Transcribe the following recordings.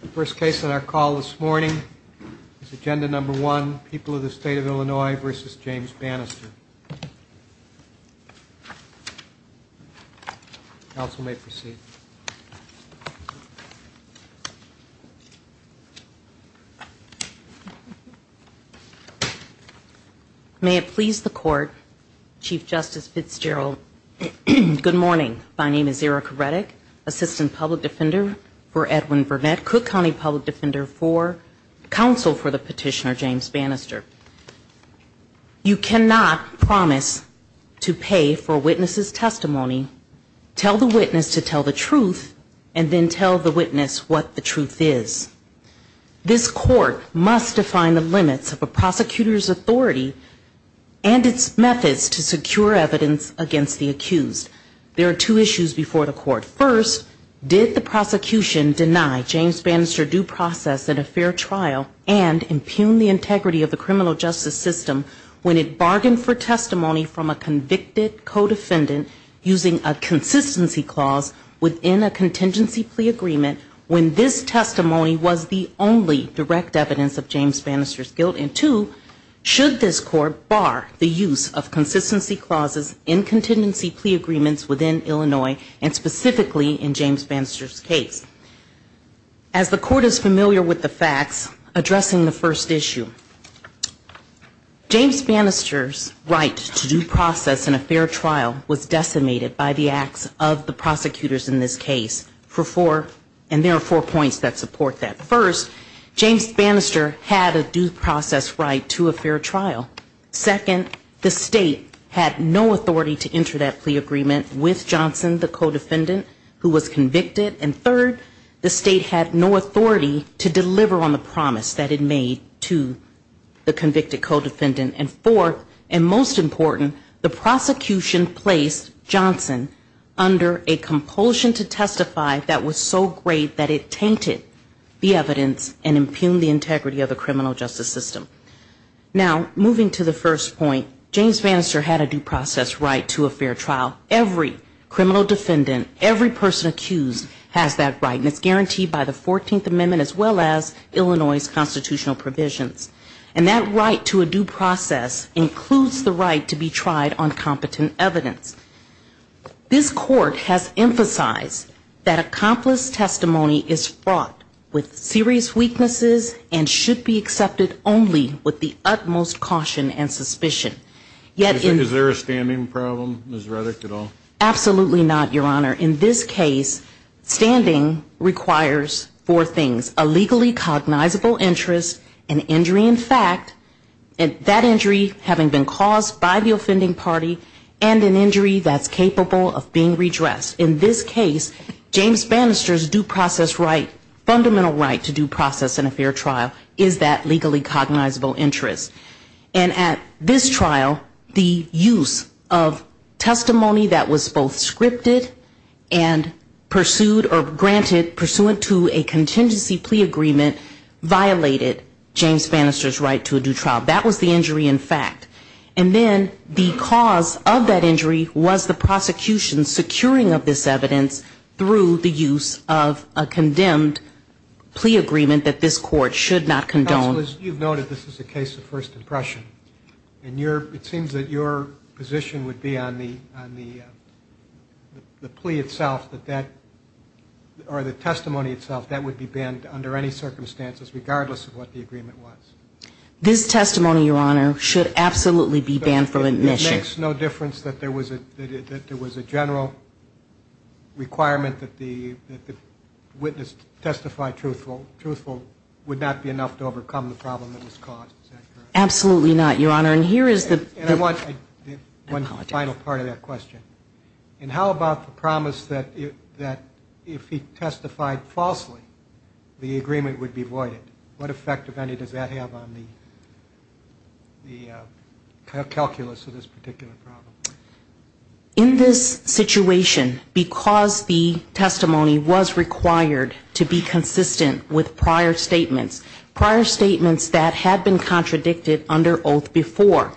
The first case on our call this morning is Agenda No. 1, People of the State of Illinois v. James Bannister. Counsel may proceed. May it please the Court, Chief Justice Fitzgerald, Good morning. My name is Erica Redick, Assistant Public Defender for Edwin Burnett, Cook County Public Defender for Counsel for the Petitioner James Bannister. You cannot promise to pay for a witness's testimony, tell the witness to tell the truth, and then tell the witness what the truth is. This Court must define the limits of a prosecutor's authority and its methods to secure evidence against the accused. There are two issues before the Court. First, did the prosecution deny James Bannister due process at a fair trial and impugn the integrity of the criminal justice system when it bargained for testimony from a convicted co-defendant using a consistency clause within a contingency plea agreement when this testimony was the only direct evidence of James Bannister's guilt? And two, should this Court bar the use of consistency clauses in contingency plea agreements within Illinois and specifically in James Bannister's case? As the Court is familiar with the facts addressing the first issue, James Bannister's right to due process in a fair trial was decimated by the acts of the prosecution that support that. First, James Bannister had a due process right to a fair trial. Second, the State had no authority to enter that plea agreement with Johnson, the co-defendant, who was convicted. And third, the State had no authority to deliver on the promise that it made to the convicted co-defendant. And fourth, and most important, the prosecution placed Johnson under a compulsion to testify that was so great that it tainted the evidence and impugned the integrity of the criminal justice system. Now, moving to the first point, James Bannister had a due process right to a fair trial. Every criminal defendant, every person accused has that right, and it's guaranteed by the 14th Amendment as well as Illinois' constitutional provisions. And that right to a due process includes the right to be tried on serious weaknesses and should be accepted only with the utmost caution and suspicion. Is there a standing problem, Ms. Reddick, at all? Absolutely not, Your Honor. In this case, standing requires four things, a legally cognizable interest, an injury in fact, that injury having been And at this trial, the use of testimony that was both scripted and pursued or granted pursuant to a contingency plea agreement violated James Bannister's right to a due trial. That was the injury in fact. And then the cause of that injury was the prosecution's securing of this evidence through the use of a plea agreement that this court should not condone. Counsel, as you've noted, this is a case of first impression. And it seems that your position would be on the plea itself, or the testimony itself, that would be banned under any circumstances, regardless of what the agreement was. This testimony, Your Honor, should absolutely be banned from admission. It makes no difference that there was a general requirement that the witness testify truthful. Truthful would not be enough to overcome the problem that was caused, is that correct? Absolutely not, Your Honor. And here is the And I want one final part of that question. And how about the promise that if he testified falsely, the agreement would be voided? What effect, if any, does that have on the calculus of this particular problem? In this situation, because the testimony was required to be consistent with prior statements, prior statements that had been contradicted under oath before,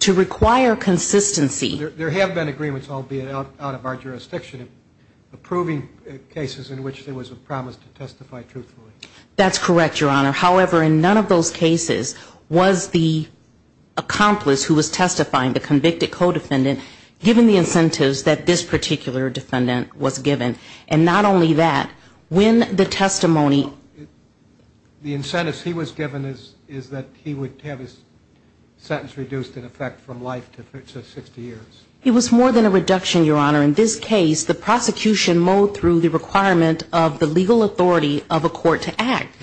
to require consistency There have been agreements, albeit out of our jurisdiction, approving cases in which there was a promise to testify truthfully. That's correct, Your Honor. However, in none of those cases was the accomplice who was testifying, the convicted co-defendant, given the incentives that this particular defendant was given. And not only that, when the testimony The incentives he was given is that he would have his sentence reduced in effect from life to 60 years. It was more than a reduction, Your Honor. In this case, the prosecution mowed through the requirement of the legal authority of a court to act.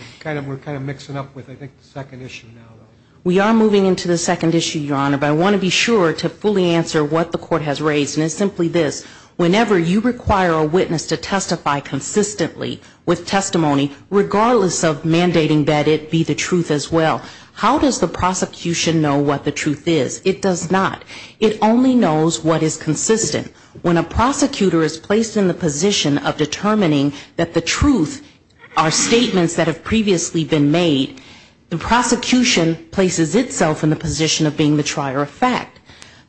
We are moving into the second issue, Your Honor. But I want to be sure to fully answer what the court has raised. And it's simply this. Whenever you require a witness to testify consistently with testimony, regardless of mandating that it be the truth as well, how does the prosecution know what the truth is? It does not. It only knows what is consistent. When a prosecutor is placed in the position of determining that the truth are statements that are consistent with the truth, the prosecution is placed in the position of being the trier of fact.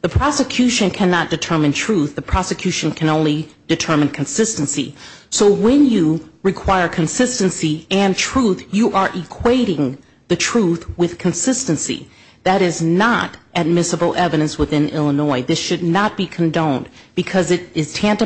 The prosecution cannot determine truth. The prosecution can only determine consistency. So when you require consistency and truth, you are equating the truth with consistency. That is not admissible evidence within Illinois. This should not be condoned, because it is not admissible evidence within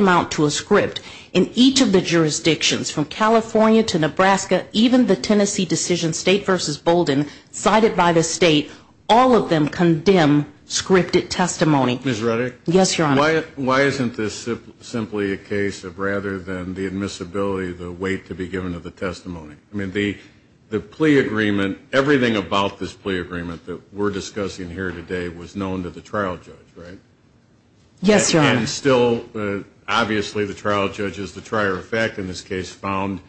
the Tennessee decision, State v. Bolden, cited by the State. All of them condemn scripted testimony. Ms. Rudder? Yes, Your Honor. Why isn't this simply a case of rather than the admissibility, the weight to be given to the testimony? I mean, the plea agreement, everything about this plea agreement that we're discussing here today was known to the trial judge, right? Yes, Your Honor. And still, obviously, the trial judge is the trier of fact in this case, found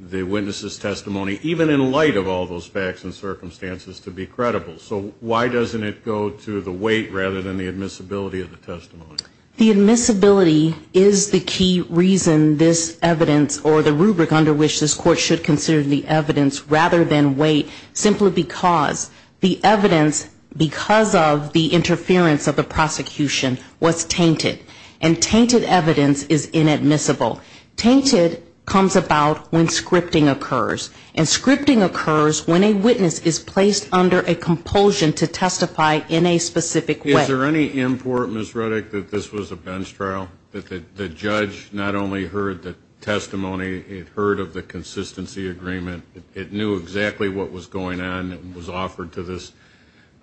the witness' testimony, even in light of all those facts and circumstances, to be credible. So why doesn't it go to the weight rather than the admissibility of the testimony? The admissibility is the key reason this evidence or the rubric under which this Court should consider the evidence rather than weight, simply because the testimony is credible and tainted evidence is inadmissible. Tainted comes about when scripting occurs. And scripting occurs when a witness is placed under a compulsion to testify in a specific way. Is there any import, Ms. Rudder, that this was a bench trial, that the judge not only heard the testimony, it heard of the consistency agreement, it knew exactly what was going on that was offered to this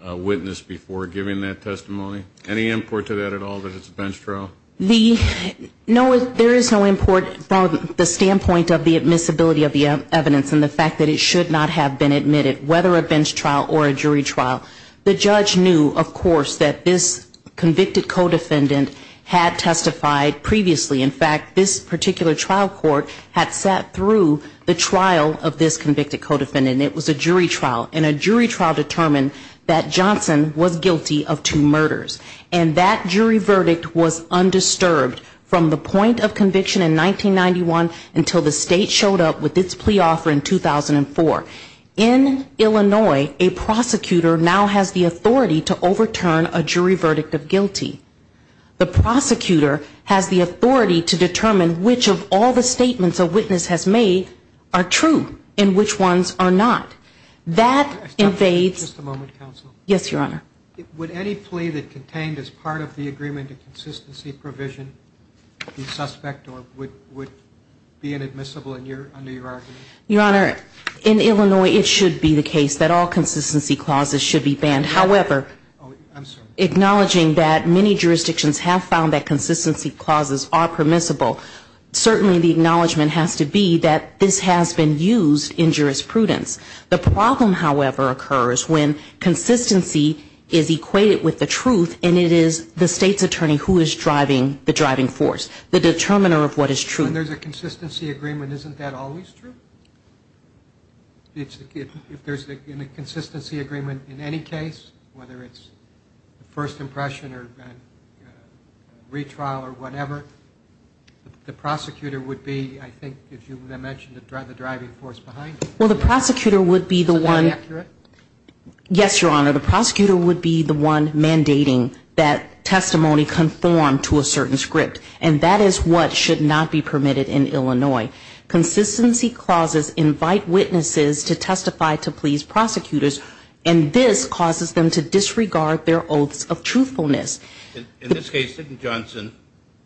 witness before giving that testimony? Any import to that at all that it's a bench trial? No, there is no import from the standpoint of the admissibility of the evidence and the fact that it should not have been admitted, whether a bench trial or a jury trial. The judge knew, of course, that this convicted co-defendant had testified previously. In fact, this particular trial court had sat through the trial of this convicted co-defendant. It was a jury trial. And a jury trial determined that Johnson was guilty of two crimes, one of which was the murder of his wife, and the other was the murder of his son. The jury trial was undisturbed from the point of conviction in 1991 until the state showed up with its plea offer in 2004. In Illinois, a prosecutor now has the authority to overturn a jury verdict of guilty. The prosecutor has the authority to determine which of all the statements a witness has made are true and which ones are not. That invades the jurisdiction of the court. In Illinois, it should be the case that all consistency clauses should be banned. However, acknowledging that many jurisdictions have found that consistency clauses are permissible, certainly the acknowledgement has to be that this has been used in jurisprudence. The problem, however, occurs when consistency is equated with the truth, and it is the state's attorney who is driving the driving force, the determiner of what is true. And there's a consistency agreement. Isn't that always true? If there's a consistency agreement in any case, whether it's first impression or retrial or whatever, the prosecutor would be, I think, as you mentioned, the driving force behind it. Well, the prosecutor would be the one. Yes, Your Honor, the prosecutor would be the one mandating that testimony conform to a certain script, and that is what should not be permitted in Illinois. Consistency clauses invite witnesses to testify to please prosecutors, and this causes them to disregard their oaths of truthfulness. In this case, didn't Johnson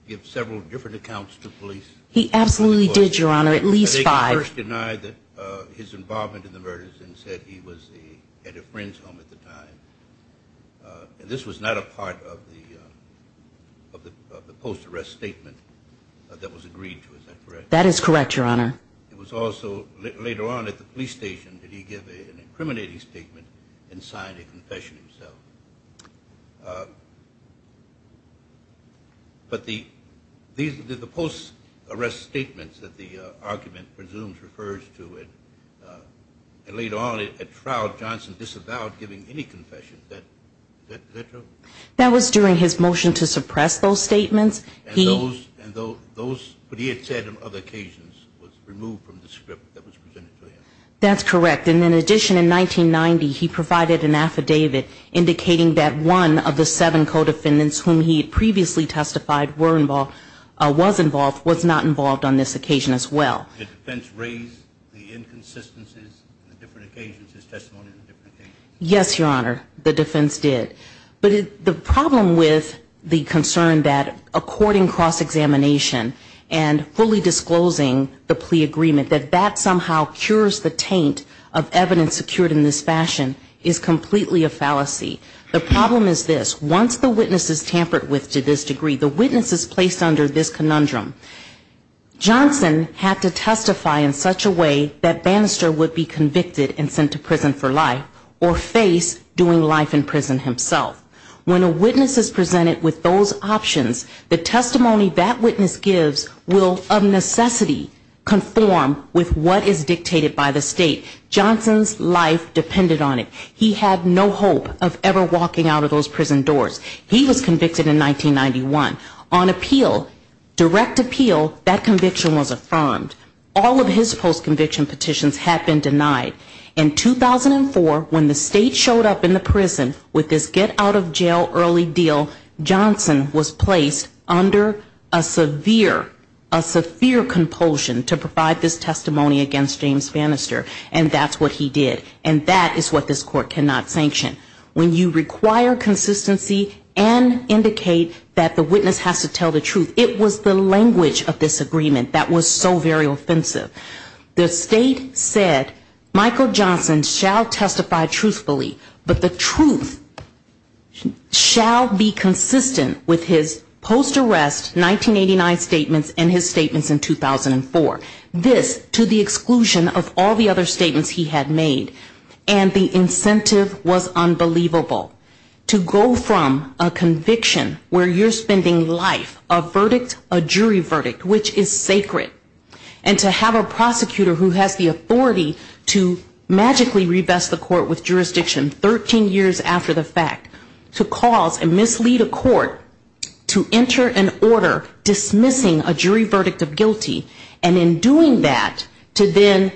give several different accounts to police? He absolutely did, Your Honor, at least five. They first denied his involvement in the murders and said he was at a friend's home at the time, and this was not a part of the post-arrest statement that was agreed to, is that correct? That is correct, Your Honor. It was also later on at the police station that he gave an incriminating statement and signed a confession himself. That was during his motion to suppress those statements. And those, what he had said on other occasions was removed from the script that was presented to him. That's correct, and in addition, in 1990, he provided an affidavit indicating that one of the seven co-defendants whom he had previously testified was involved was not involved on this occasion as well. Did the defense raise the inconsistencies on different occasions, his testimony on different occasions? Yes, Your Honor, the defense did. But the problem with the concern that according cross-examination and fully disclosing the plea agreement, that that somehow cures the taint of evidence secured in this fashion is completely a fallacy. The problem is this, once the witness is tampered with to this degree, the witness is placed under this conundrum. Johnson had to testify in such a way that Bannister would be convicted and sent to prison for life or face doing life in prison himself. When a witness is presented with those options, the testimony that witness gives will of necessity conform with what is dictated by the state. Johnson's life depended on it. He had no hope of ever walking out of those prison doors. He was convicted in 1991. On appeal, direct appeal, that conviction was affirmed. All of his post-conviction petitions had been denied. In 2004, when the state showed up in the prison with this get out of jail early deal, Johnson was placed under a severe, a severe compulsion to provide this testimony against James Bannister, and that's what he did. And that is what this court cannot sanction. When you require consistency and indicate that the witness has to tell the truth, it was the language of this agreement that was so very offensive. The state said Michael Johnson shall testify truthfully, but the truth shall be consistent with his post-arrest 1989 statements and his statements in 2004. This to the exclusion of all the other statements he had made, and the incentive was unbelievable. To go from a conviction where you're spending life, a verdict, a jury verdict, which is sacred, and to have a prosecutor who has the authority to magically revest the court with jurisdiction 13 years after the fact, to cause and mislead a court to enter an order dismissing a jury verdict of guilty, and in doing that, to then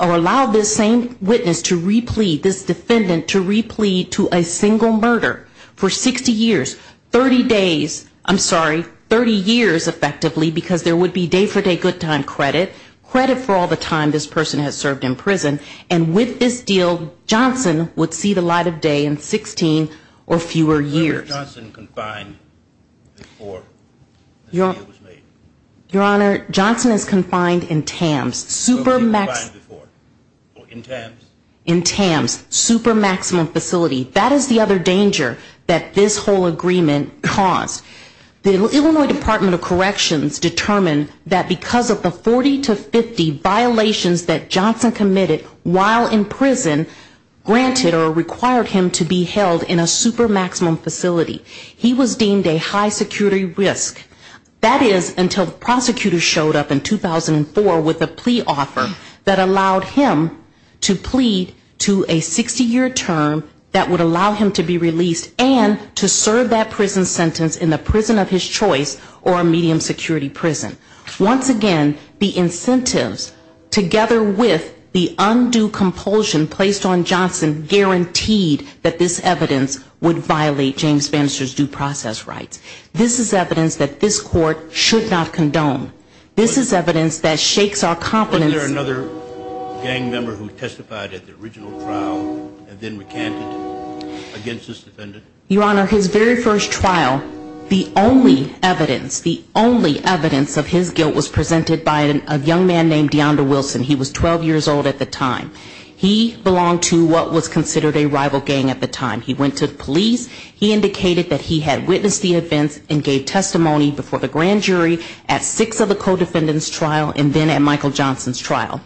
allow this same witness to replete, this defendant to replete to a single murder for 60 years, 30 days, I'm sorry, 30 years effectively, because there would be day for day good time credit, credit for all the time this person has served in prison, and with this deal, Johnson would see the light of day in 16 or 18 years. Your Honor, Johnson is confined in TAMS. In TAMS, super maximum facility. That is the other danger that this whole agreement caused. The Illinois Department of Corrections determined that because of the 40 to 50 violations that Johnson committed while in TAMS, he was deemed a high security risk. That is until the prosecutor showed up in 2004 with a plea offer that allowed him to plead to a 60-year term that would allow him to be released and to serve that prison sentence in the prison of his choice or a medium security prison. Once again, the incentives together with the undue compulsion placed on Johnson guaranteed that this evidence would violate James Johnson's due process rights. This is evidence that this court should not condone. This is evidence that shakes our confidence. Wasn't there another gang member who testified at the original trial and then recanted against this defendant? Your Honor, his very first trial, the only evidence, the only evidence of his guilt was presented by a young man named Dionda Wilson. He was 12 years old at the time. He belonged to what was considered a rival gang at the time. He went to the police. He indicated that he had witnessed the events and gave testimony before the grand jury at six of the co-defendants' trial and then at Michael Johnson's trial.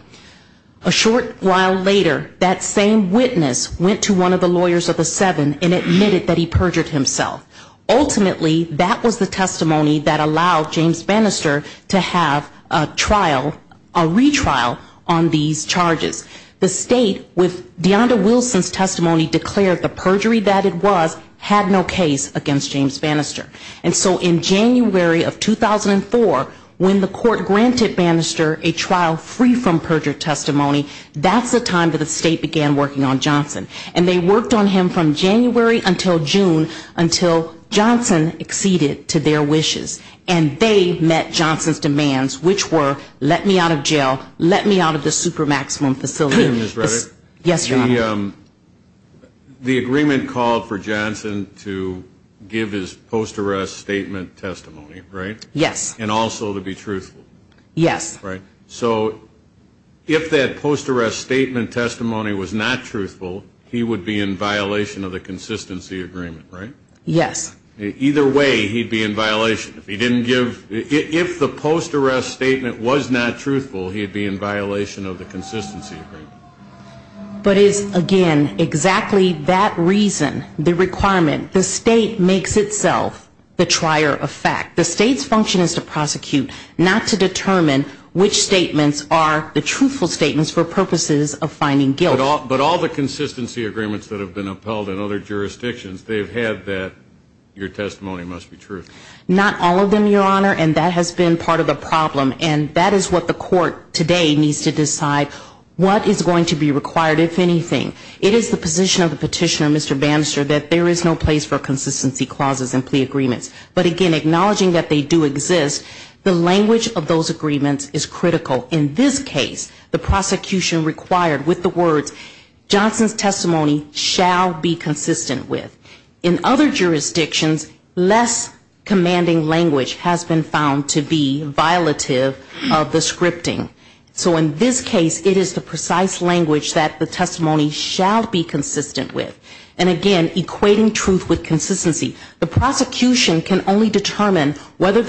A short while later, that same witness went to one of the lawyers of the seven and admitted that he perjured himself. Ultimately, that was the testimony that allowed James Bannister to have a trial, a retrial on these charges. The state, with Dionda Wilson's testimony, declared the perjury that it was had no case against James Bannister. And so in January of 2004, when the court granted Bannister a trial free from perjured testimony, that's the time that the state began working on Johnson. And they worked on him from January until June until Johnson acceded to their wishes. And they met Johnson's demands, which were, let me out of jail, let me out of the supermaximum facility. Yes, Your Honor. The agreement called for Johnson to give his post-arrest statement testimony, right? Yes. And also to be truthful. Yes. Right. So if that post-arrest statement testimony was not truthful, he would be in violation of the consistency agreement, right? Yes. Either way, he'd be in violation. If he didn't give, if the post-arrest statement was not truthful, he'd be in violation of the consistency agreement. But it's, again, exactly that reason, the requirement. The state makes itself the trier of fact. The state's function is to prosecute, not to find out which statements are the truthful statements for purposes of finding guilt. But all the consistency agreements that have been upheld in other jurisdictions, they've had that your testimony must be true. Not all of them, Your Honor. And that has been part of the problem. And that is what the court today needs to decide, what is going to be required, if anything. It is the position of the petitioner, Mr. Bannister, that there is no place for consistency clauses and plea clauses to exist, the language of those agreements is critical. In this case, the prosecution required with the words, Johnson's testimony shall be consistent with. In other jurisdictions, less commanding language has been found to be violative of the scripting. So in this case, it is the precise language that the testimony shall be consistent with. And again, equating truth with the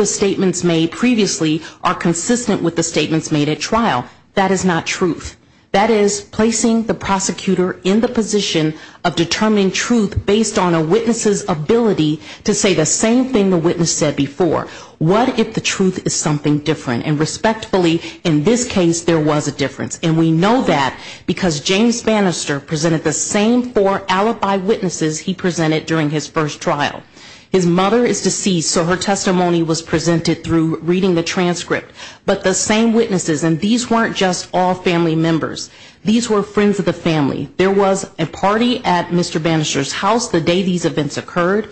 statements made previously are consistent with the statements made at trial. That is not truth. That is, placing the prosecutor in the position of determining truth based on a witness's ability to say the same thing the witness said before. What if the truth is something different? And respectfully, in this case, there was a difference. And we know that because James Bannister presented the same four alibi witnesses he presented during his first trial. His mother is deceased, so her testimony was presented through reading the transcript. But the same witnesses, and these weren't just all family members. These were friends of the family. There was a party at Mr. Bannister's house the day these events occurred.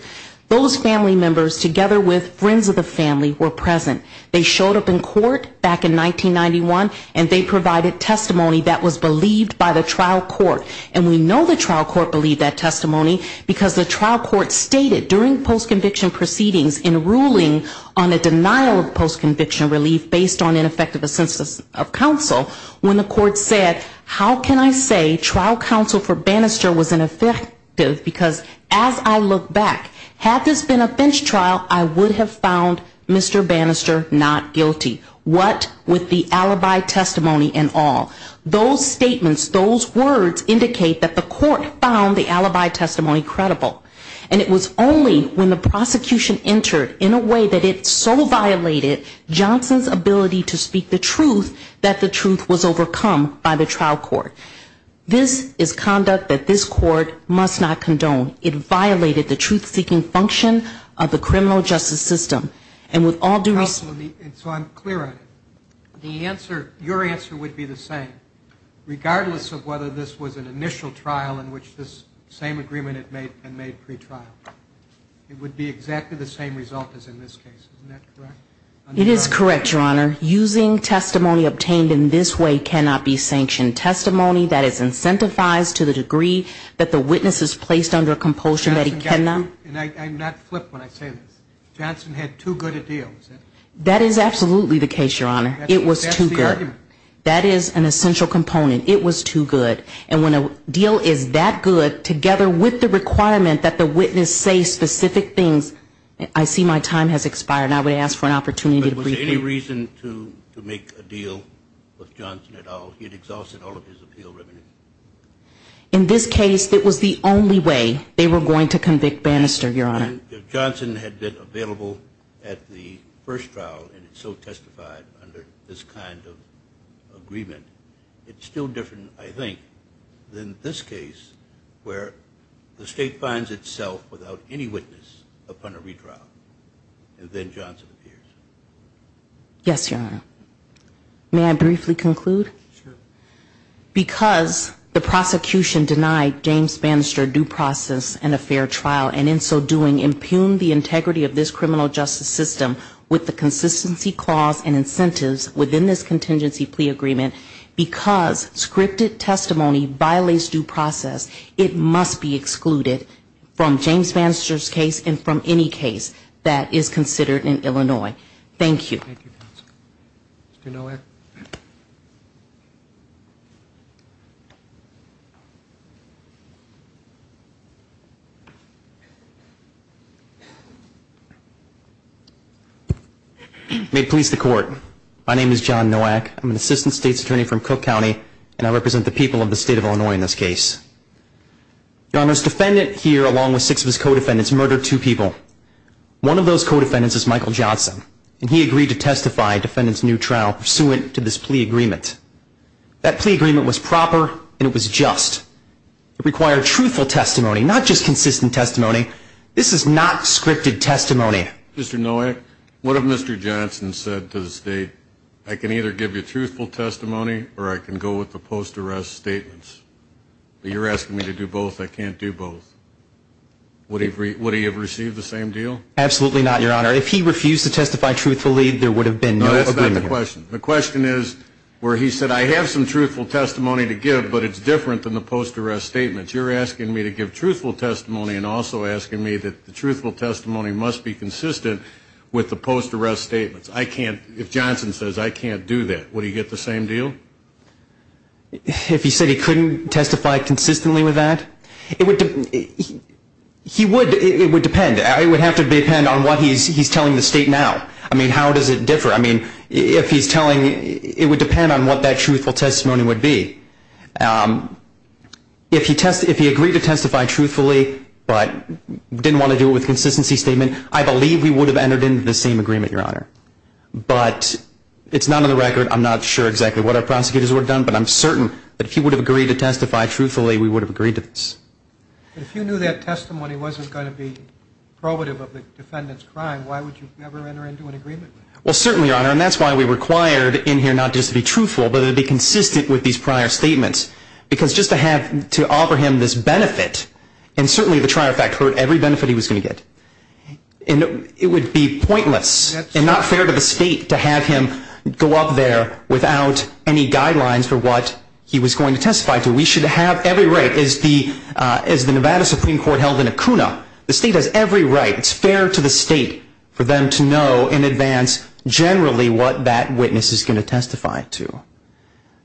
Those family members together with friends of the family were present. They showed up in court back in 1991, and they provided testimony that was believed by the trial court. And we know the trial court believed that testimony, because the trial court stated during post-conviction proceedings in ruling on a denial of post-conviction relief based on ineffective assistance of counsel, when the court said, how can I say trial counsel for Bannister was ineffective, because as I look back, had this been a bench trial, I would have found Mr. Bannister not guilty. What with the alibi testimony and all. Those statements, those words indicate that the court found the alibi testimony credible. And it was only when the prosecution entered in a way that it so violated Johnson's ability to speak the truth, that the truth was overcome by the trial court. This is conduct that this court must not condone. It violated the truth-seeking function of the criminal justice system. And with all due respect... So I'm clear on it. The answer, your answer would be the same, regardless of whether this was an initial trial in which this same agreement had been made pre-trial. It would be exactly the same result as in this case. Isn't that correct? It is correct, your honor. Using testimony obtained in this way cannot be sanctioned. Testimony that is incentivized to the degree that the witness is placed under a compulsion that he cannot... And I'm not flipped when I say this. Johnson had too good a deal. That is absolutely the case, your honor. It was too good. That is an essential component. It was too good. And when a deal is that good, together with the requirement that the witness say specific things, I see my time has expired, and I would ask for an opportunity to brief you. But was there any reason to make a deal with Johnson at all? He had exhausted all of his appeal revenue. In this case, it was the only way they were going to convict Bannister, your honor. If Johnson had been available at the first trial and had so testified under this kind of agreement, it's still different, I think, than this case where the state finds itself without any witness upon a retrial, and then Johnson appears. Yes, your honor. May I briefly conclude? Because the prosecution denied James Bannister due process and a fair trial, and in so doing impugned the integrity of this criminal justice system with the consistency clause and incentives within this contingency plea agreement, because scripted testimony violates due process, it must be excluded from James Bannister's case and from any case that is considered in Illinois. Thank you. Thank you, counsel. Mr. Nowak. May it please the court. My name is John Nowak. I'm an assistant state's attorney from Cook County, and I represent the people of the state of Illinois in this case. Your honor, this defendant here, along with six of his codefendants, murdered two people. One of those codefendants is Michael Johnson, and he agreed to testify in a defendant's new trial pursuant to this plea agreement. That plea agreement was proper, and it was just. It required truthful testimony, not just consistent testimony. This is not scripted testimony. Mr. Nowak, what if Mr. Johnson said to the state, I can either give you truthful testimony, or I can go with the post-arrest statements, but you're asking me to do both. I can't do both. Would he have received the same deal? Absolutely not, your honor. If he refused to testify truthfully, there would have been no agreement here. No, that's not the question. The question is where he said, I have some truthful testimony to give, but it's different than the post-arrest statements. You're asking me to give truthful testimony and also asking me that the truthful testimony must be consistent with the post-arrest statements. I can't, if Johnson says, I can't do that, would he get the same deal? I mean, if he said he couldn't testify consistently with that, it would depend. It would have to depend on what he's telling the state now. I mean, how does it differ? I mean, if he's telling, it would depend on what that truthful testimony would be. If he agreed to testify truthfully, but didn't want to do it with a consistency statement, I believe we would have entered into the same agreement, your honor. But it's not on the record, I'm not sure exactly what our prosecutors would have done, but I'm certain that if he would have agreed to testify truthfully, we would have agreed to this. But if you knew that testimony wasn't going to be probative of the defendant's crime, why would you ever enter into an agreement? Well, certainly, your honor, and that's why we required in here not just to be truthful, but it would be consistent with these prior statements. Because just to have, to offer him this benefit, and certainly the trier fact hurt every benefit he was going to get. And it would be pointless and not fair to the state to have him go up there without any guidelines for what he was going to testify to. We should have every right, as the Nevada Supreme Court held in Acuna, the state has every right, it's fair to the state for them to know in advance generally what that witness is going to testify to.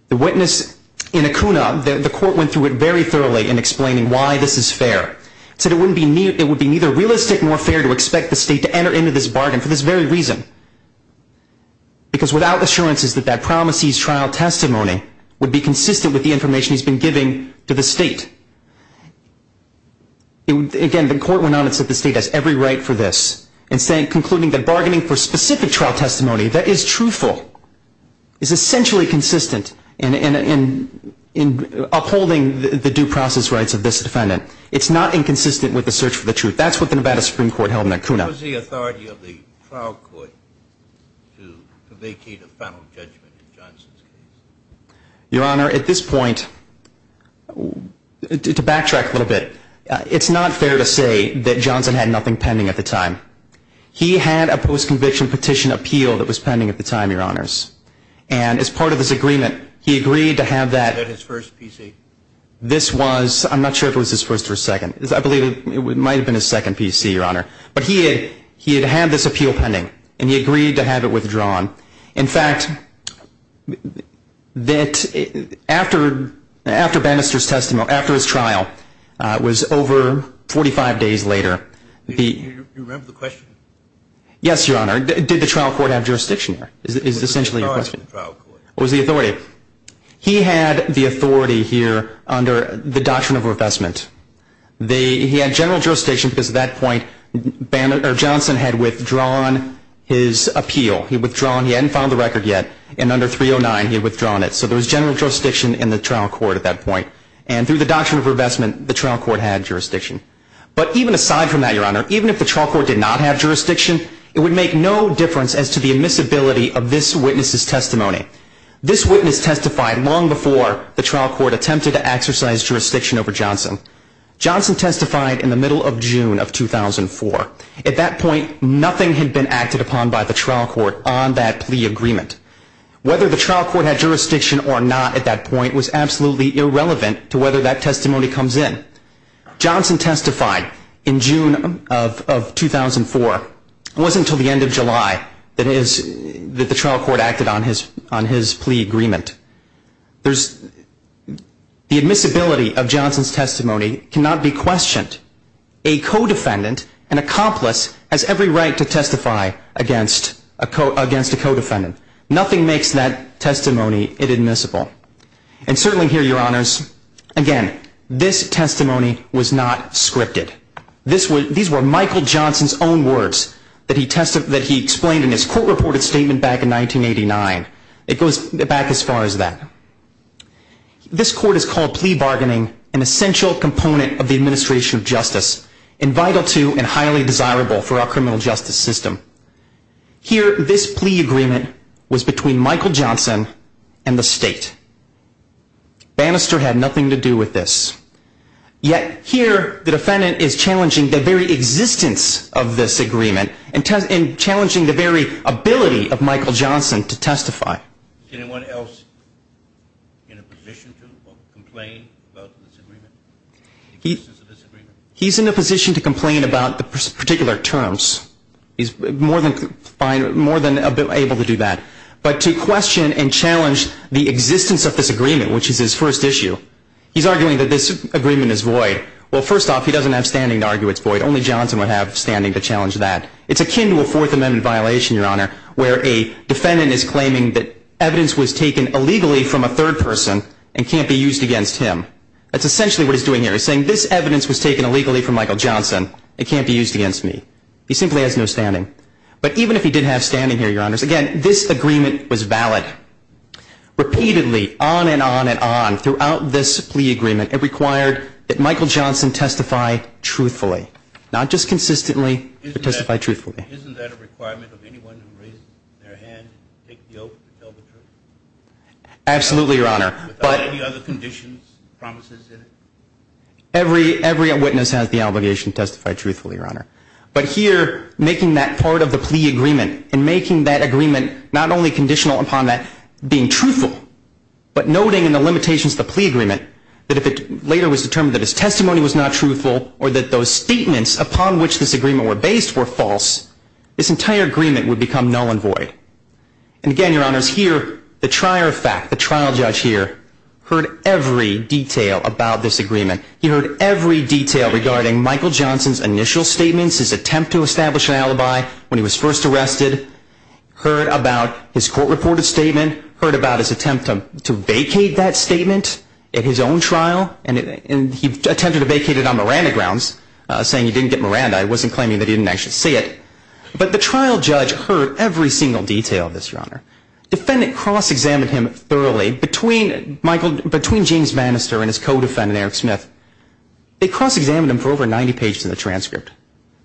The witness in Acuna, the court went through it very thoroughly in explaining why this is fair. It said it would be neither realistic nor fair to expect the state to enter into this bargain for this very reason. Because without assurances that that promisee's trial testimony would be consistent with the information he's been giving to the state. Again, the court went on and said the state has every right for this, concluding that bargaining for specific trial testimony that is truthful is essentially consistent in upholding the due process rights of this defendant. It's not inconsistent with the search for the truth. That's what the Nevada Supreme Court held in Acuna. Your Honor, at this point, to backtrack a little bit, it's not fair to say that Johnson had nothing pending at the time. He had a post-conviction petition appeal that was pending at the time, Your Honors. And as part of this agreement, he agreed to have that. I'm not sure if it was his first or second. I believe it might have been his second PC, Your Honor. But he had had this appeal pending, and he agreed to have it withdrawn. In fact, after Bannister's trial, it was over 45 days later. Do you remember the question? Yes, Your Honor. Did the trial court have jurisdiction there is essentially your question. It was the authority of the trial court. It was the authority. He had the authority here under the doctrine of revestment. He had general jurisdiction because at that point, Johnson had withdrawn his appeal. He withdrawn. He hadn't filed the record yet. And under 309, he had withdrawn it. So there was general jurisdiction in the trial court at that point. And through the doctrine of revestment, the trial court had jurisdiction. But even aside from that, Your Honor, even if the trial court did not have jurisdiction, it would make no difference as to the admissibility of this witness's testimony. This witness testified long before the trial court attempted to exercise jurisdiction over Johnson. Johnson testified in the middle of June of 2004. At that point, nothing had been acted upon by the trial court on that plea agreement. Whether the trial court had jurisdiction or not at that point was absolutely irrelevant to whether that testimony comes in. Johnson testified in June of 2004. It wasn't until the end of July that the trial court acted on his plea agreement. The admissibility of Johnson's testimony cannot be questioned. A co-defendant, an accomplice, has every right to testify against a co-defendant. Nothing makes that testimony inadmissible. And certainly here, Your Honors, again, this testimony was not scripted. These were Michael Johnson's own words that he explained in his court-reported statement back in 1989. It goes back as far as that. This court has called plea bargaining an essential component of the administration of justice and vital to and highly desirable for our criminal justice system. Here, this plea agreement was between Michael Johnson and the state. Bannister had nothing to do with this. Yet here, the defendant is challenging the very existence of this agreement and challenging the very ability of Michael Johnson to testify. Is anyone else in a position to complain about this agreement? He's in a position to complain about the particular terms. He's more than able to do that. But to question and challenge the existence of this agreement, which is his first issue, he's arguing that this agreement is void. Well, first off, he doesn't have standing to argue it's void. Only Johnson would have standing to challenge that. It's akin to a Fourth Amendment violation, Your Honor, where a defendant is claiming that evidence was taken illegally from a third person and can't be used against him. That's essentially what he's doing here. He's saying this evidence was taken illegally from Michael Johnson. It can't be used against me. He simply has no standing. But even if he did have standing here, Your Honors, again, this agreement was valid. Repeatedly, on and on and on throughout this plea agreement, it required that Michael Johnson testify truthfully. Not just consistently, but testify truthfully. Isn't that a requirement of anyone who raises their hand and takes the oath to tell the truth? Absolutely, Your Honor. Every witness has the obligation to testify truthfully, Your Honor. But here, making that part of the plea agreement and making that agreement not only conditional upon that being truthful, but noting in the limitations of the plea agreement that if it later was determined that his testimony was not truthful, or that those statements upon which this agreement were based were false, this entire agreement would become null and void. And again, Your Honors, here, the trial judge here heard every detail about this agreement. He heard every detail regarding Michael Johnson's initial statements, his attempt to establish an alibi when he was first arrested. Heard about his court-reported statement. Heard about his attempt to vacate that statement at his own trial. And he attempted to vacate it on Miranda grounds, saying he didn't get Miranda. He wasn't claiming that he didn't actually see it. But the trial judge heard every single detail of this, Your Honor. Defendant cross-examined him thoroughly between Michael, between James Bannister and his co-defendant, Eric Smith. They cross-examined him for over 90 pages of the transcript.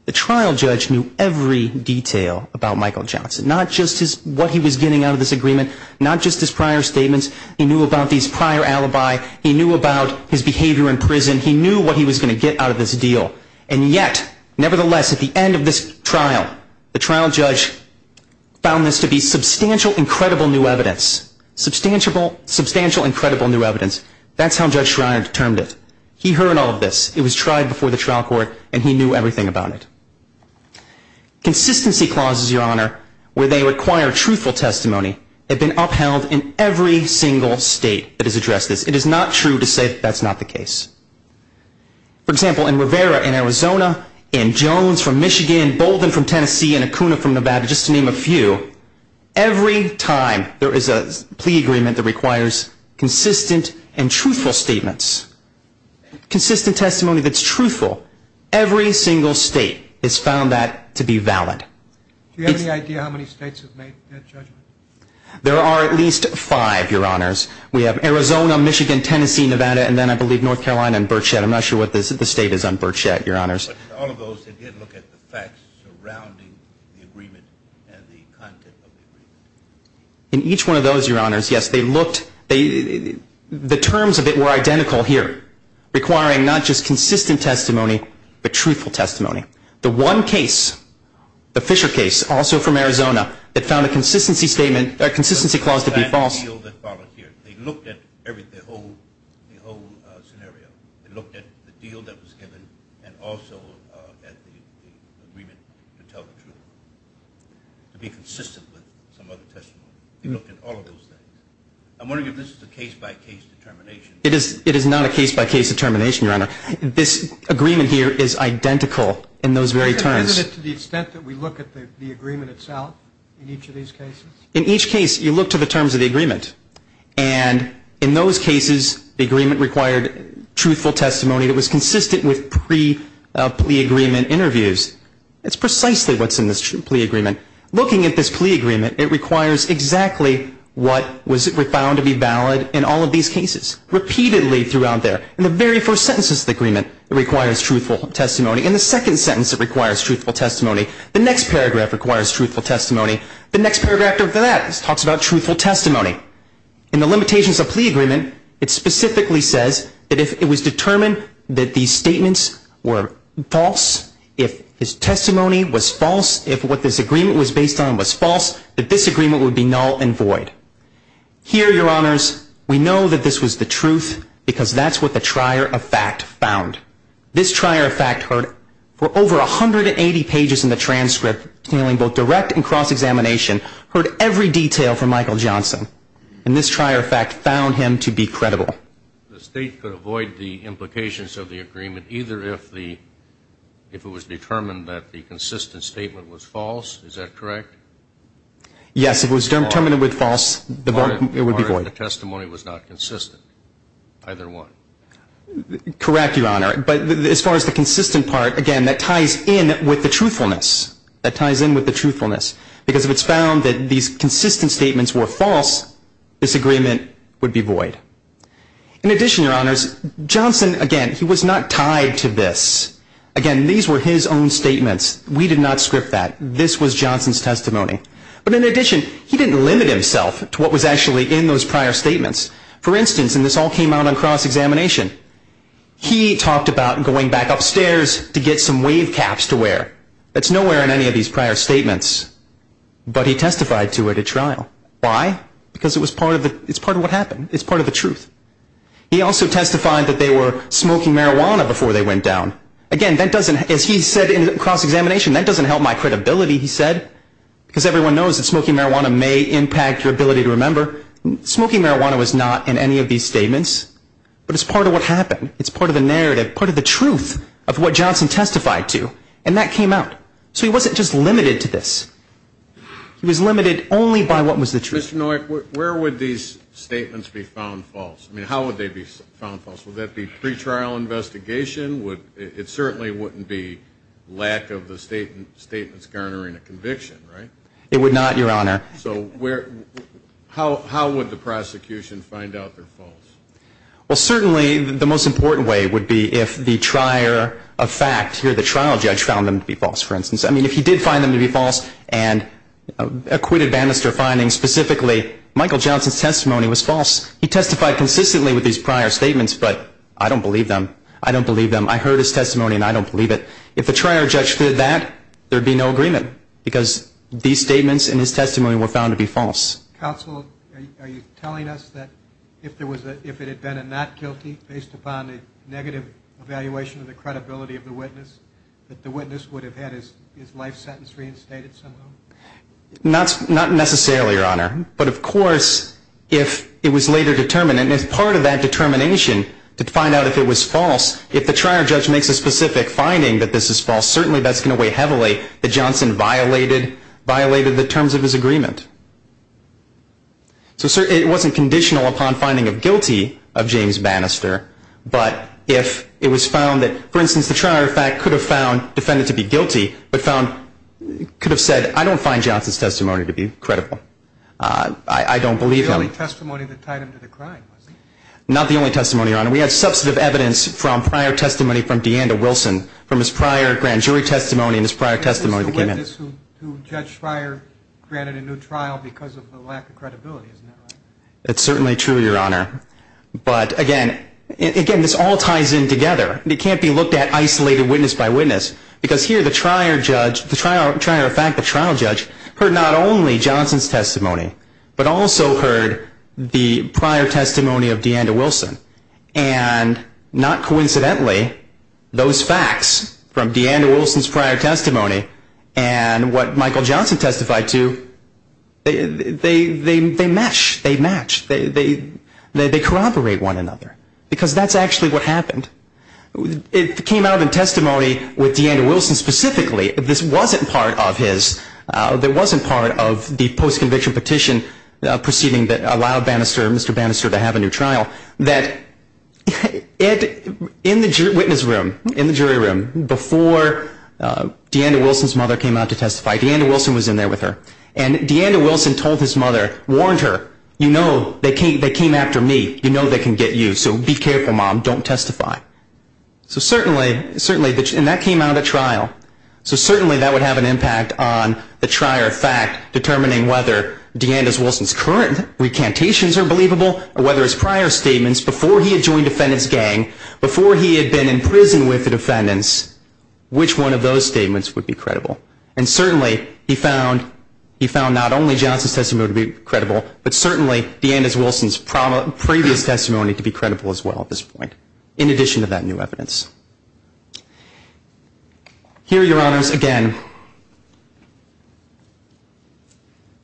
The trial judge knew every detail about Michael Johnson, not just what he was getting out of this agreement, not just his prior statements. He knew about these prior alibi. He knew about his behavior in prison. He knew what he was going to get out of this deal. And yet, nevertheless, at the end of this trial, the trial judge found this to be substantial, incredible new evidence. Substantial, incredible new evidence. That's how Judge Schreiner determined it. He heard all of this. It was tried before the trial court, and he knew everything about it. Consistency clauses, Your Honor, where they require truthful testimony, have been upheld in every single state that has addressed this. It is not true to say that that's not the case. For example, in Rivera in Arizona, in Jones from Michigan, Bolden from Tennessee, and Acuna from Nevada, just to name a few, every time there is a plea agreement that requires consistent and truthful statements, consistent testimony that's truthful, every single state has found that to be valid. Do you have any idea how many states have made that judgment? There are at least five, Your Honors. We have Arizona, Michigan, Tennessee, Nevada, and then I believe North Carolina and Birchette. I'm not sure what the state is on Birchette, Your Honors. All of those, they did look at the facts surrounding the agreement and the content of the agreement. In each one of those, Your Honors, yes, they looked. The terms of it were identical here, requiring not just consistent testimony, but truthful testimony. The one case, the Fisher case, also from Arizona, that found a consistency statement, a consistency clause to be false. They looked at the whole scenario. They looked at the deal that was given and also at the agreement to tell the truth, to be consistent with some other testimony. I'm wondering if this is a case-by-case determination. It is not a case-by-case determination, Your Honor. This agreement here is identical in those very terms. Is it to the extent that we look at the agreement itself in each of these cases? In each case, you look to the terms of the agreement. And in those cases, the agreement required truthful testimony that was consistent with pre-plea agreement interviews. That's precisely what's in this plea agreement. Looking at this plea agreement, it requires exactly what was found to be valid in all of these cases, repeatedly throughout there. In the very first sentences of the agreement, it requires truthful testimony. In the second sentence, it requires truthful testimony. The next paragraph requires truthful testimony. The next paragraph after that talks about truthful testimony. In the limitations of plea agreement, it specifically says that if it was determined that these statements were false, if his testimony was false, if what this agreement was based on was false, that this agreement would be null and void. Here, Your Honors, we know that this was the truth because that's what the trier of fact found. This trier of fact heard for over 180 pages in the transcript, dealing both direct and cross-examination, heard every detail from Michael Johnson. And this trier of fact found him to be credible. The State could avoid the implications of the agreement either if it was determined that the consistent statement was false. Is that correct? Yes, if it was determined with false, it would be void. The testimony was not consistent, either one. Correct, Your Honor, but as far as the consistent part, again, that ties in with the truthfulness. That ties in with the truthfulness because if it's found that these consistent statements were false, this agreement would be void. In addition, Your Honors, Johnson, again, he was not tied to this. Again, these were his own statements. We did not script that. This was Johnson's testimony. But in addition, he didn't limit himself to what was actually in those prior statements. For instance, and this all came out on cross-examination, he talked about going back upstairs to get some wave caps to wear. That's nowhere in any of these prior statements, but he testified to it at trial. Why? Because it's part of what happened. It's part of the truth. He also testified that they were smoking marijuana before they went down. Again, as he said in cross-examination, that doesn't help my credibility, he said, because everyone knows that smoking marijuana may impact your ability to remember. Smoking marijuana was not in any of these statements, but it's part of what happened. It's part of the narrative, part of the truth of what Johnson testified to, and that came out. So he wasn't just limited to this. He was limited only by what was the truth. Mr. Noack, where would these statements be found false? I mean, how would they be found false? Would that be pretrial investigation? It certainly wouldn't be lack of the statements garnering a conviction, right? It would not, Your Honor. So how would the prosecution find out they're false? Well, certainly the most important way would be if the trier of fact, here the trial judge, found them to be false, for instance. I mean, if he did find them to be false, and acquitted Bannister finding specifically, Michael Johnson's testimony was false. He testified consistently with these prior statements, but I don't believe them. I don't believe them. I heard his testimony, and I don't believe it. If the trier judge did that, there would be no agreement, because these statements in his testimony were found to be false. Counsel, are you telling us that if it had been a not guilty, based upon a negative evaluation of the credibility of the witness, that the witness would have had his life sentence reinstated somehow? Not necessarily, Your Honor. But of course, if it was later determined, and as part of that determination to find out if it was false, if the trier judge makes a specific finding that this is false, certainly that's going to weigh heavily that Johnson violated the terms of his agreement. So it wasn't conditional upon finding of guilty of James Bannister, but if it was found that, for instance, the trier of fact could have found defendant to be guilty, but found, could have said, I don't find Johnson's testimony to be credible. I don't believe him. Not the only testimony that tied him to the crime, was it? Not the only testimony, Your Honor. We had substantive evidence from prior testimony from DeAnda Wilson, from his prior grand jury testimony and his prior testimony that came in. This is the witness who Judge Schreier granted a new trial because of the lack of credibility, isn't that right? That's certainly true, Your Honor. But again, this all ties in together. It can't be looked at isolated witness by witness, because here the trier judge, the trier of fact, the trial judge, heard not only Johnson's testimony, but also heard the prior testimony of DeAnda Wilson. And not coincidentally, those facts from DeAnda Wilson's prior testimony and what Michael Johnson testified to, they match. They match. They corroborate one another. Because that's actually what happened. It came out in testimony with DeAnda Wilson specifically. This wasn't part of his, this wasn't part of the post-conviction petition proceeding that allowed Mr. Bannister to have a new trial. That in the witness room, in the jury room, before DeAnda Wilson's mother came out to testify, DeAnda Wilson was in there with her. And DeAnda Wilson told his mother, warned her, you know they came after me. You know they can get you. So be careful, Mom. Don't testify. So certainly, and that came out at trial. So certainly that would have an impact on the trier of fact, determining whether DeAnda Wilson's current recantations are believable, or whether his prior statements before he had joined defendant's gang, before he had been in prison with the defendants, which one of those statements would be credible. And certainly he found not only Johnson's testimony to be credible, but certainly DeAnda Wilson's previous testimony to be credible as well at this point. So that's the conclusion of that new evidence. Here, Your Honors, again,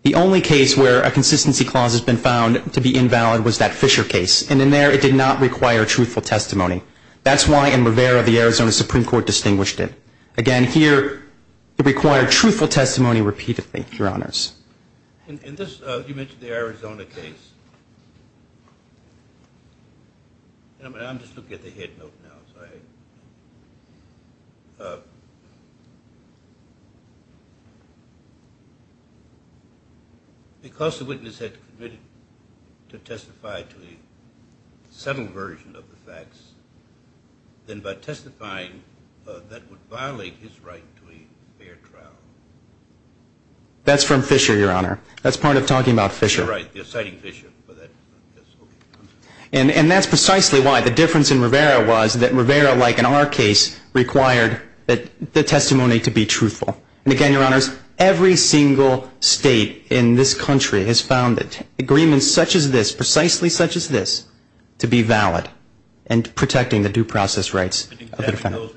the only case where a consistency clause has been found to be invalid was that Fisher case. And in there it did not require truthful testimony. That's why in Rivera the Arizona Supreme Court distinguished it. Again, here it required truthful testimony repeatedly, Your Honors. In this, you mentioned the Arizona case. I'm just looking at the head note now. Because the witness had committed to testify to a subtle version of the facts, then by testifying that would violate his right to a fair trial. That's from Fisher, Your Honor. That's part of talking about Fisher. And that's precisely why the difference in Rivera was that Rivera, like in our case, required the testimony to be truthful. And again, Your Honors, every single state in this country has found agreements such as this, precisely such as this, to be valid in protecting the due process rights of the defendant.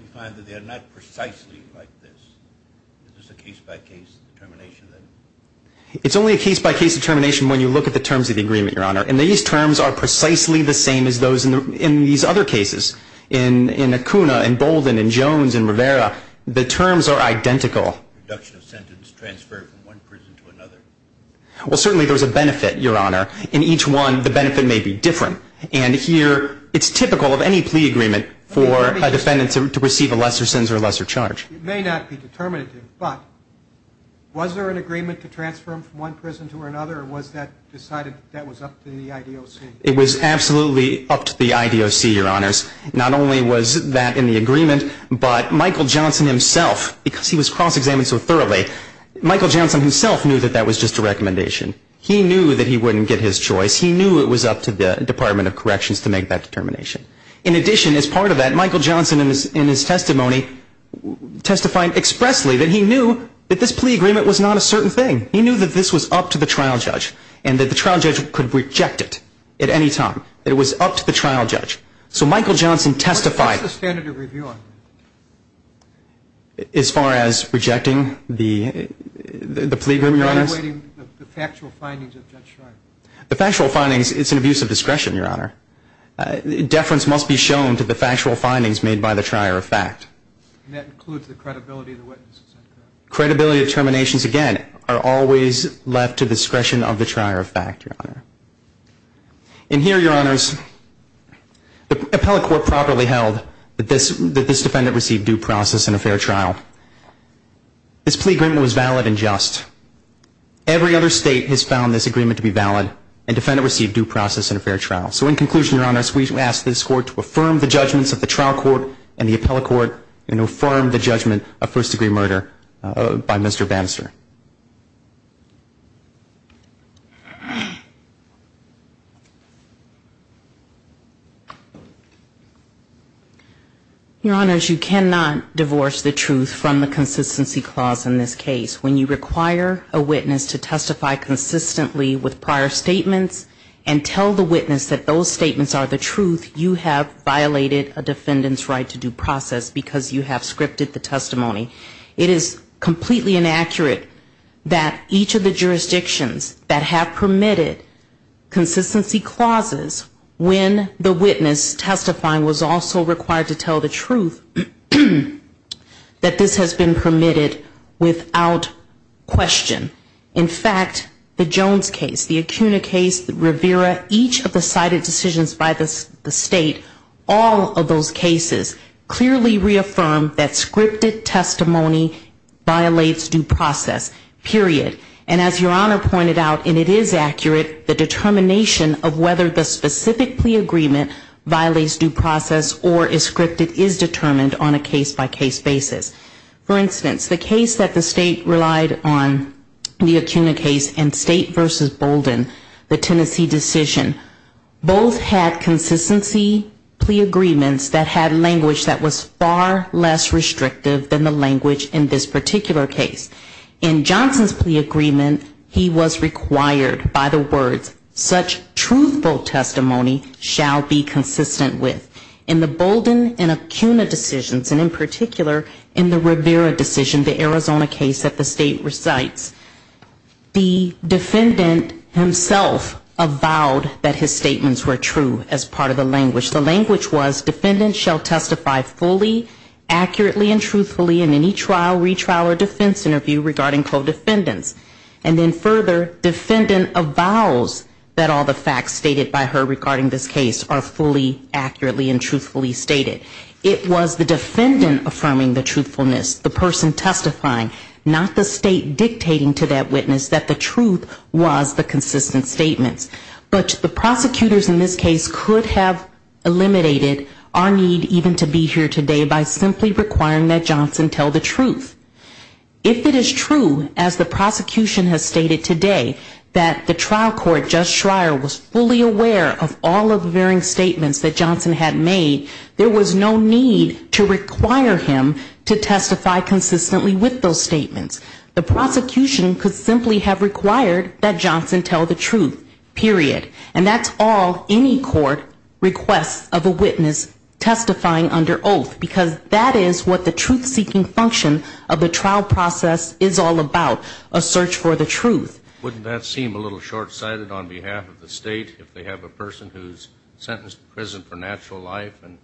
It's only a case-by-case determination when you look at the terms of the agreement, Your Honor. And these terms are precisely the same as those in these other cases. In Acuna, in Bolden, in Jones, in Rivera, the terms are identical. Well, certainly there's a benefit, Your Honor. In each one, the benefit may be different. And here, it's typical of any plea agreement for a defendant to receive a lesser sentence or a lesser charge. It may not be determinative, but was there an agreement to transfer him from one prison to another, or was that decided that was up to the IDOC? It was absolutely up to the IDOC, Your Honors. Not only was that in the agreement, but Michael Johnson himself, because he was cross-examined so thoroughly, he knew it was up to the Department of Corrections to make that determination. In addition, as part of that, Michael Johnson in his testimony testified expressly that he knew that this plea agreement was not a certain thing. He knew that this was up to the trial judge and that the trial judge could reject it at any time. It was up to the trial judge. So Michael Johnson testified. What's the standard of review on that? As far as rejecting the plea agreement, Your Honors? Evaluating the factual findings of Judge Schreiber. The factual findings, it's an abuse of discretion, Your Honor. Deference must be shown to the factual findings made by the trier of fact. And that includes the credibility of the witnesses. Credibility of determinations, again, are always left to discretion of the trier of fact, Your Honor. And here, Your Honors, the appellate court properly held that this defendant received due process and a fair trial. This plea agreement was valid and just. Every other state has found this agreement to be valid and defendant received due process and a fair trial. So in conclusion, Your Honors, we ask this court to affirm the judgments of the trial court and the appellate court and affirm the judgment of first degree murder by Mr. Bannister. Your Honors, you cannot divorce the truth from the consistency clause in this case. When you require a witness to testify consistently with prior statements and tell the witness that those statements are the truth, you have violated a defendant's right to due process because you have scripted the testimony. It is completely inaccurate that each of the jurisdictions that have permitted consistency clauses when the witness testifying was also required to tell the truth, that this has been permitted without question. In fact, the Jones case, the Acuna case, the Rivera, each of the cited decisions by the state, all of those cases clearly reaffirm that scripted testimony violates due process, period. And as Your Honor pointed out, and it is accurate, the determination of whether the specific plea agreement violates due process or is scripted is determined on a case-by-case basis. For instance, the case that the state relied on, the Acuna case, and State v. Bolden, the Tennessee decision, both had consistency plea agreements that had language that was far less restrictive than the language in this particular case. In Johnson's plea agreement, he was required by the words, such truthful testimony shall be consistent with. In the Bolden and Acuna decisions, and in particular in the Rivera decision, the Arizona case that the state recites, the defendant himself avowed that his statements were true as part of the language. The language was defendant shall testify fully, accurately and truthfully in any trial, retrial or defense interview regarding co-defendants. And then further, defendant avows that all the facts stated by her regarding this case are fully, accurately and truthfully stated. It was the defendant affirming the truthfulness, the person testifying, not the state dictating to that witness that the truth was the consistent statements. But the prosecutors in this case could have eliminated our need even to be here today by simply requiring that Johnson tell the truth. If it is true, as the prosecution has stated today, that the trial court, Judge Schreier, was fully aware of all of the varying statements that Johnson had made, there was no need to require him to testify consistently with those statements. The prosecution could simply have required that Johnson tell the truth, period. And that's all any court requests of a witness testifying under oath, because that is what the truth-seeking function of the trial process is all about, a search for the truth. Wouldn't that seem a little short-sighted on behalf of the state if they have a person who's sentenced to prison for natural life and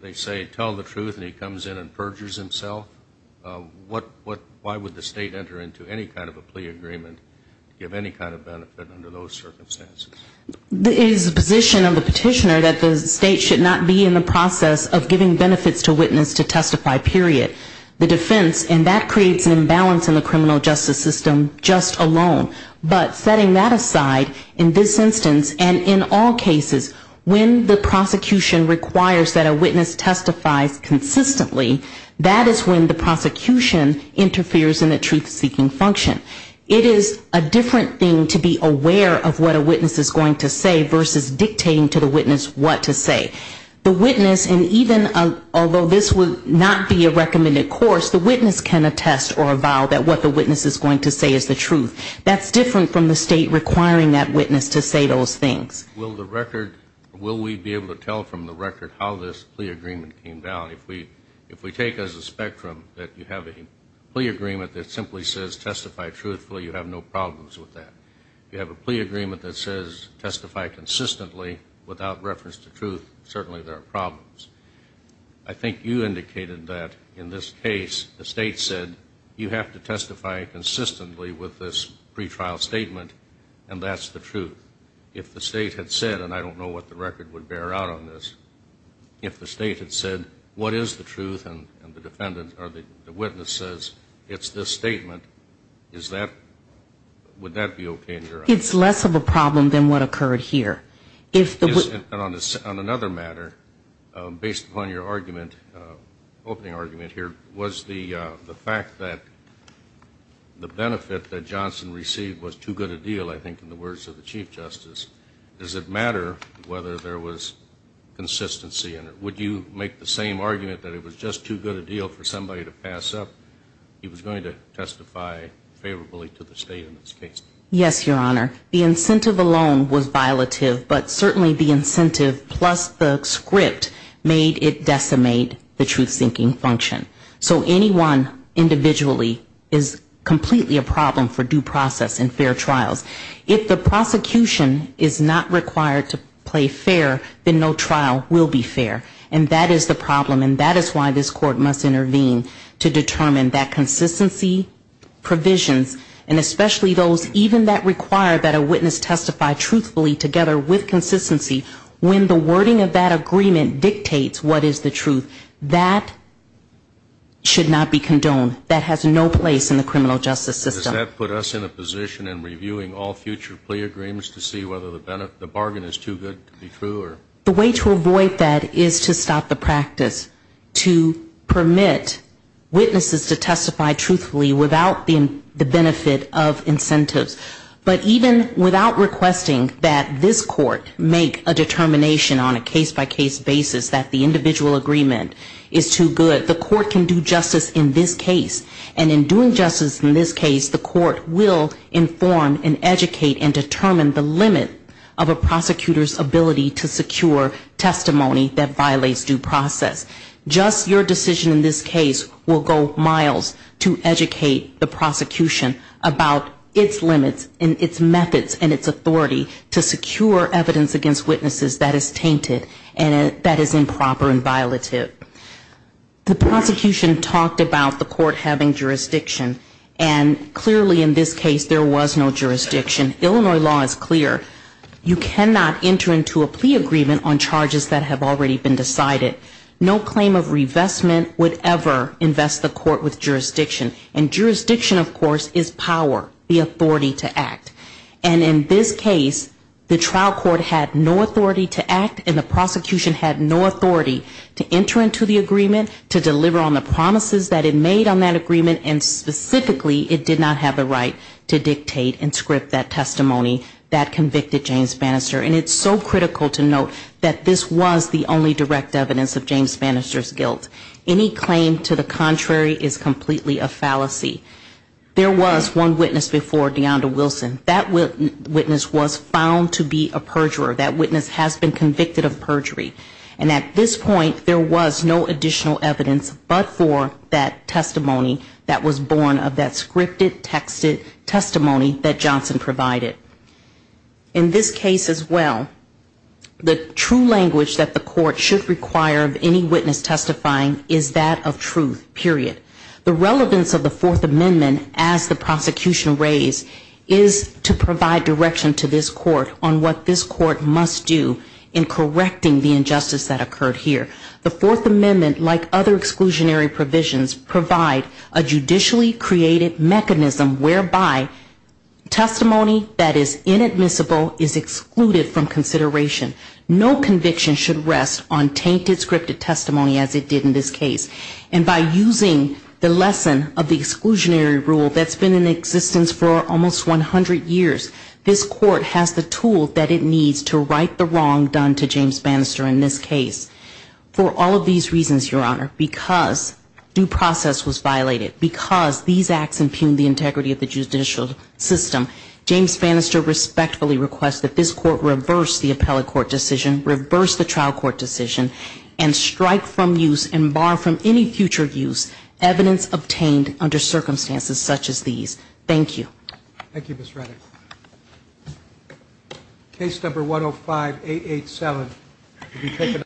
they say tell the truth and he comes in and perjures himself? Why would the state enter into any kind of a plea agreement to give any kind of benefit under those circumstances? It is the position of the petitioner that the state should not be in the process of giving benefits to witness to testify, period. The defense, and that creates an imbalance in the criminal justice system just alone. But setting that aside, in this instance, and in all cases, when the prosecution requires that a witness testifies consistently, that is when the prosecution interferes in the truth-seeking function. It is a different thing to be aware of what a witness is going to say versus dictating to the witness what to say. The witness, and even although this would not be a recommended course, the witness can attest or avow that what the witness is going to say is the truth. That's different from the state requiring that witness to say those things. Will the record, will we be able to tell from the record how this plea agreement came down? If we take as a spectrum that you have a plea agreement that simply says testify truthfully, you have no problems with that. You have a plea agreement that says testify consistently without reference to truth, certainly there are problems. I think you indicated that in this case the state said you have to testify consistently without reference to truth. You have to testify consistently with this pretrial statement and that's the truth. If the state had said, and I don't know what the record would bear out on this, if the state had said what is the truth and the witness says it's this statement, is that, would that be okay in your eyes? It's less of a problem than what occurred here. On another matter, based upon your opening argument here, was the fact that the benefit of a witness testifying consistently and the benefit that Johnson received was too good a deal, I think, in the words of the Chief Justice. Does it matter whether there was consistency in it? Would you make the same argument that it was just too good a deal for somebody to pass up he was going to testify favorably to the state in this case? Yes, Your Honor. The incentive alone was violative, but certainly the incentive plus the script made it decimate the truth-seeking function. So anyone individually is completely a problem for due process and fair trials. If the prosecution is not required to play fair, then no trial will be fair. And that is the problem and that is why this Court must intervene to determine that consistency, provisions, and especially those even that require that a witness testify truthfully together with consistency, when the wording of that agreement dictates what is the truth, that should not be condoned. That has no place in the criminal justice system. Does that put us in a position in reviewing all future plea agreements to see whether the bargain is too good to be true? The way to avoid that is to stop the practice, to permit witnesses to testify truthfully without the benefit of incentives. But even without requesting that this Court make a determination on a case-by-case basis that the individual agreement is too good, the Court can do justice in this case. And in doing justice in this case, the Court will inform and educate and determine the limit of a prosecutor's ability to secure testimony that violates due process. Just your decision in this case will go miles to educate the prosecution about its limits and its methods and its authority to secure evidence against witnesses that is tainted and that is improper and violative. The prosecution talked about the Court having jurisdiction. And clearly in this case there was no jurisdiction. Illinois law is clear. You cannot enter into a plea agreement on charges that have already been decided. No claim of revestment would ever invest the Court with jurisdiction. And jurisdiction, of course, is power, the authority to act. And in this case, the trial court had no authority to act and the prosecution had no authority to enter into a plea agreement, to deliver on the promises that it made on that agreement, and specifically, it did not have the right to dictate and script that testimony that convicted James Bannister. And it's so critical to note that this was the only direct evidence of James Bannister's guilt. Any claim to the contrary is completely a fallacy. There was one witness before DeAnda Wilson. That witness was found to be a perjurer. That witness has been convicted of perjury. And at this point there was no additional evidence but for that testimony that was born of that scripted, texted testimony that Johnson provided. In this case as well, the true language that the Court should require of any witness testifying is that of truth, period. The relevance of the Fourth Amendment as the prosecution raised is to provide direction to this Court on what this Court needs to do. What this Court must do in correcting the injustice that occurred here. The Fourth Amendment, like other exclusionary provisions, provide a judicially created mechanism whereby testimony that is inadmissible is excluded from consideration. No conviction should rest on tainted scripted testimony as it did in this case. And by using the lesson of the exclusionary rule that's been in existence for almost 100 years, this Court has the tool that it needs to right the wrong done to James Bannister in this case. For all of these reasons, Your Honor, because due process was violated, because these acts impugned the integrity of the judicial system, James Bannister respectfully requests that this Court reverse the appellate court decision, reverse the trial court decision, and strike from use and bar from any future use evidence obtained under circumstances such as these. Thank you. Thank you, Ms. Reddick.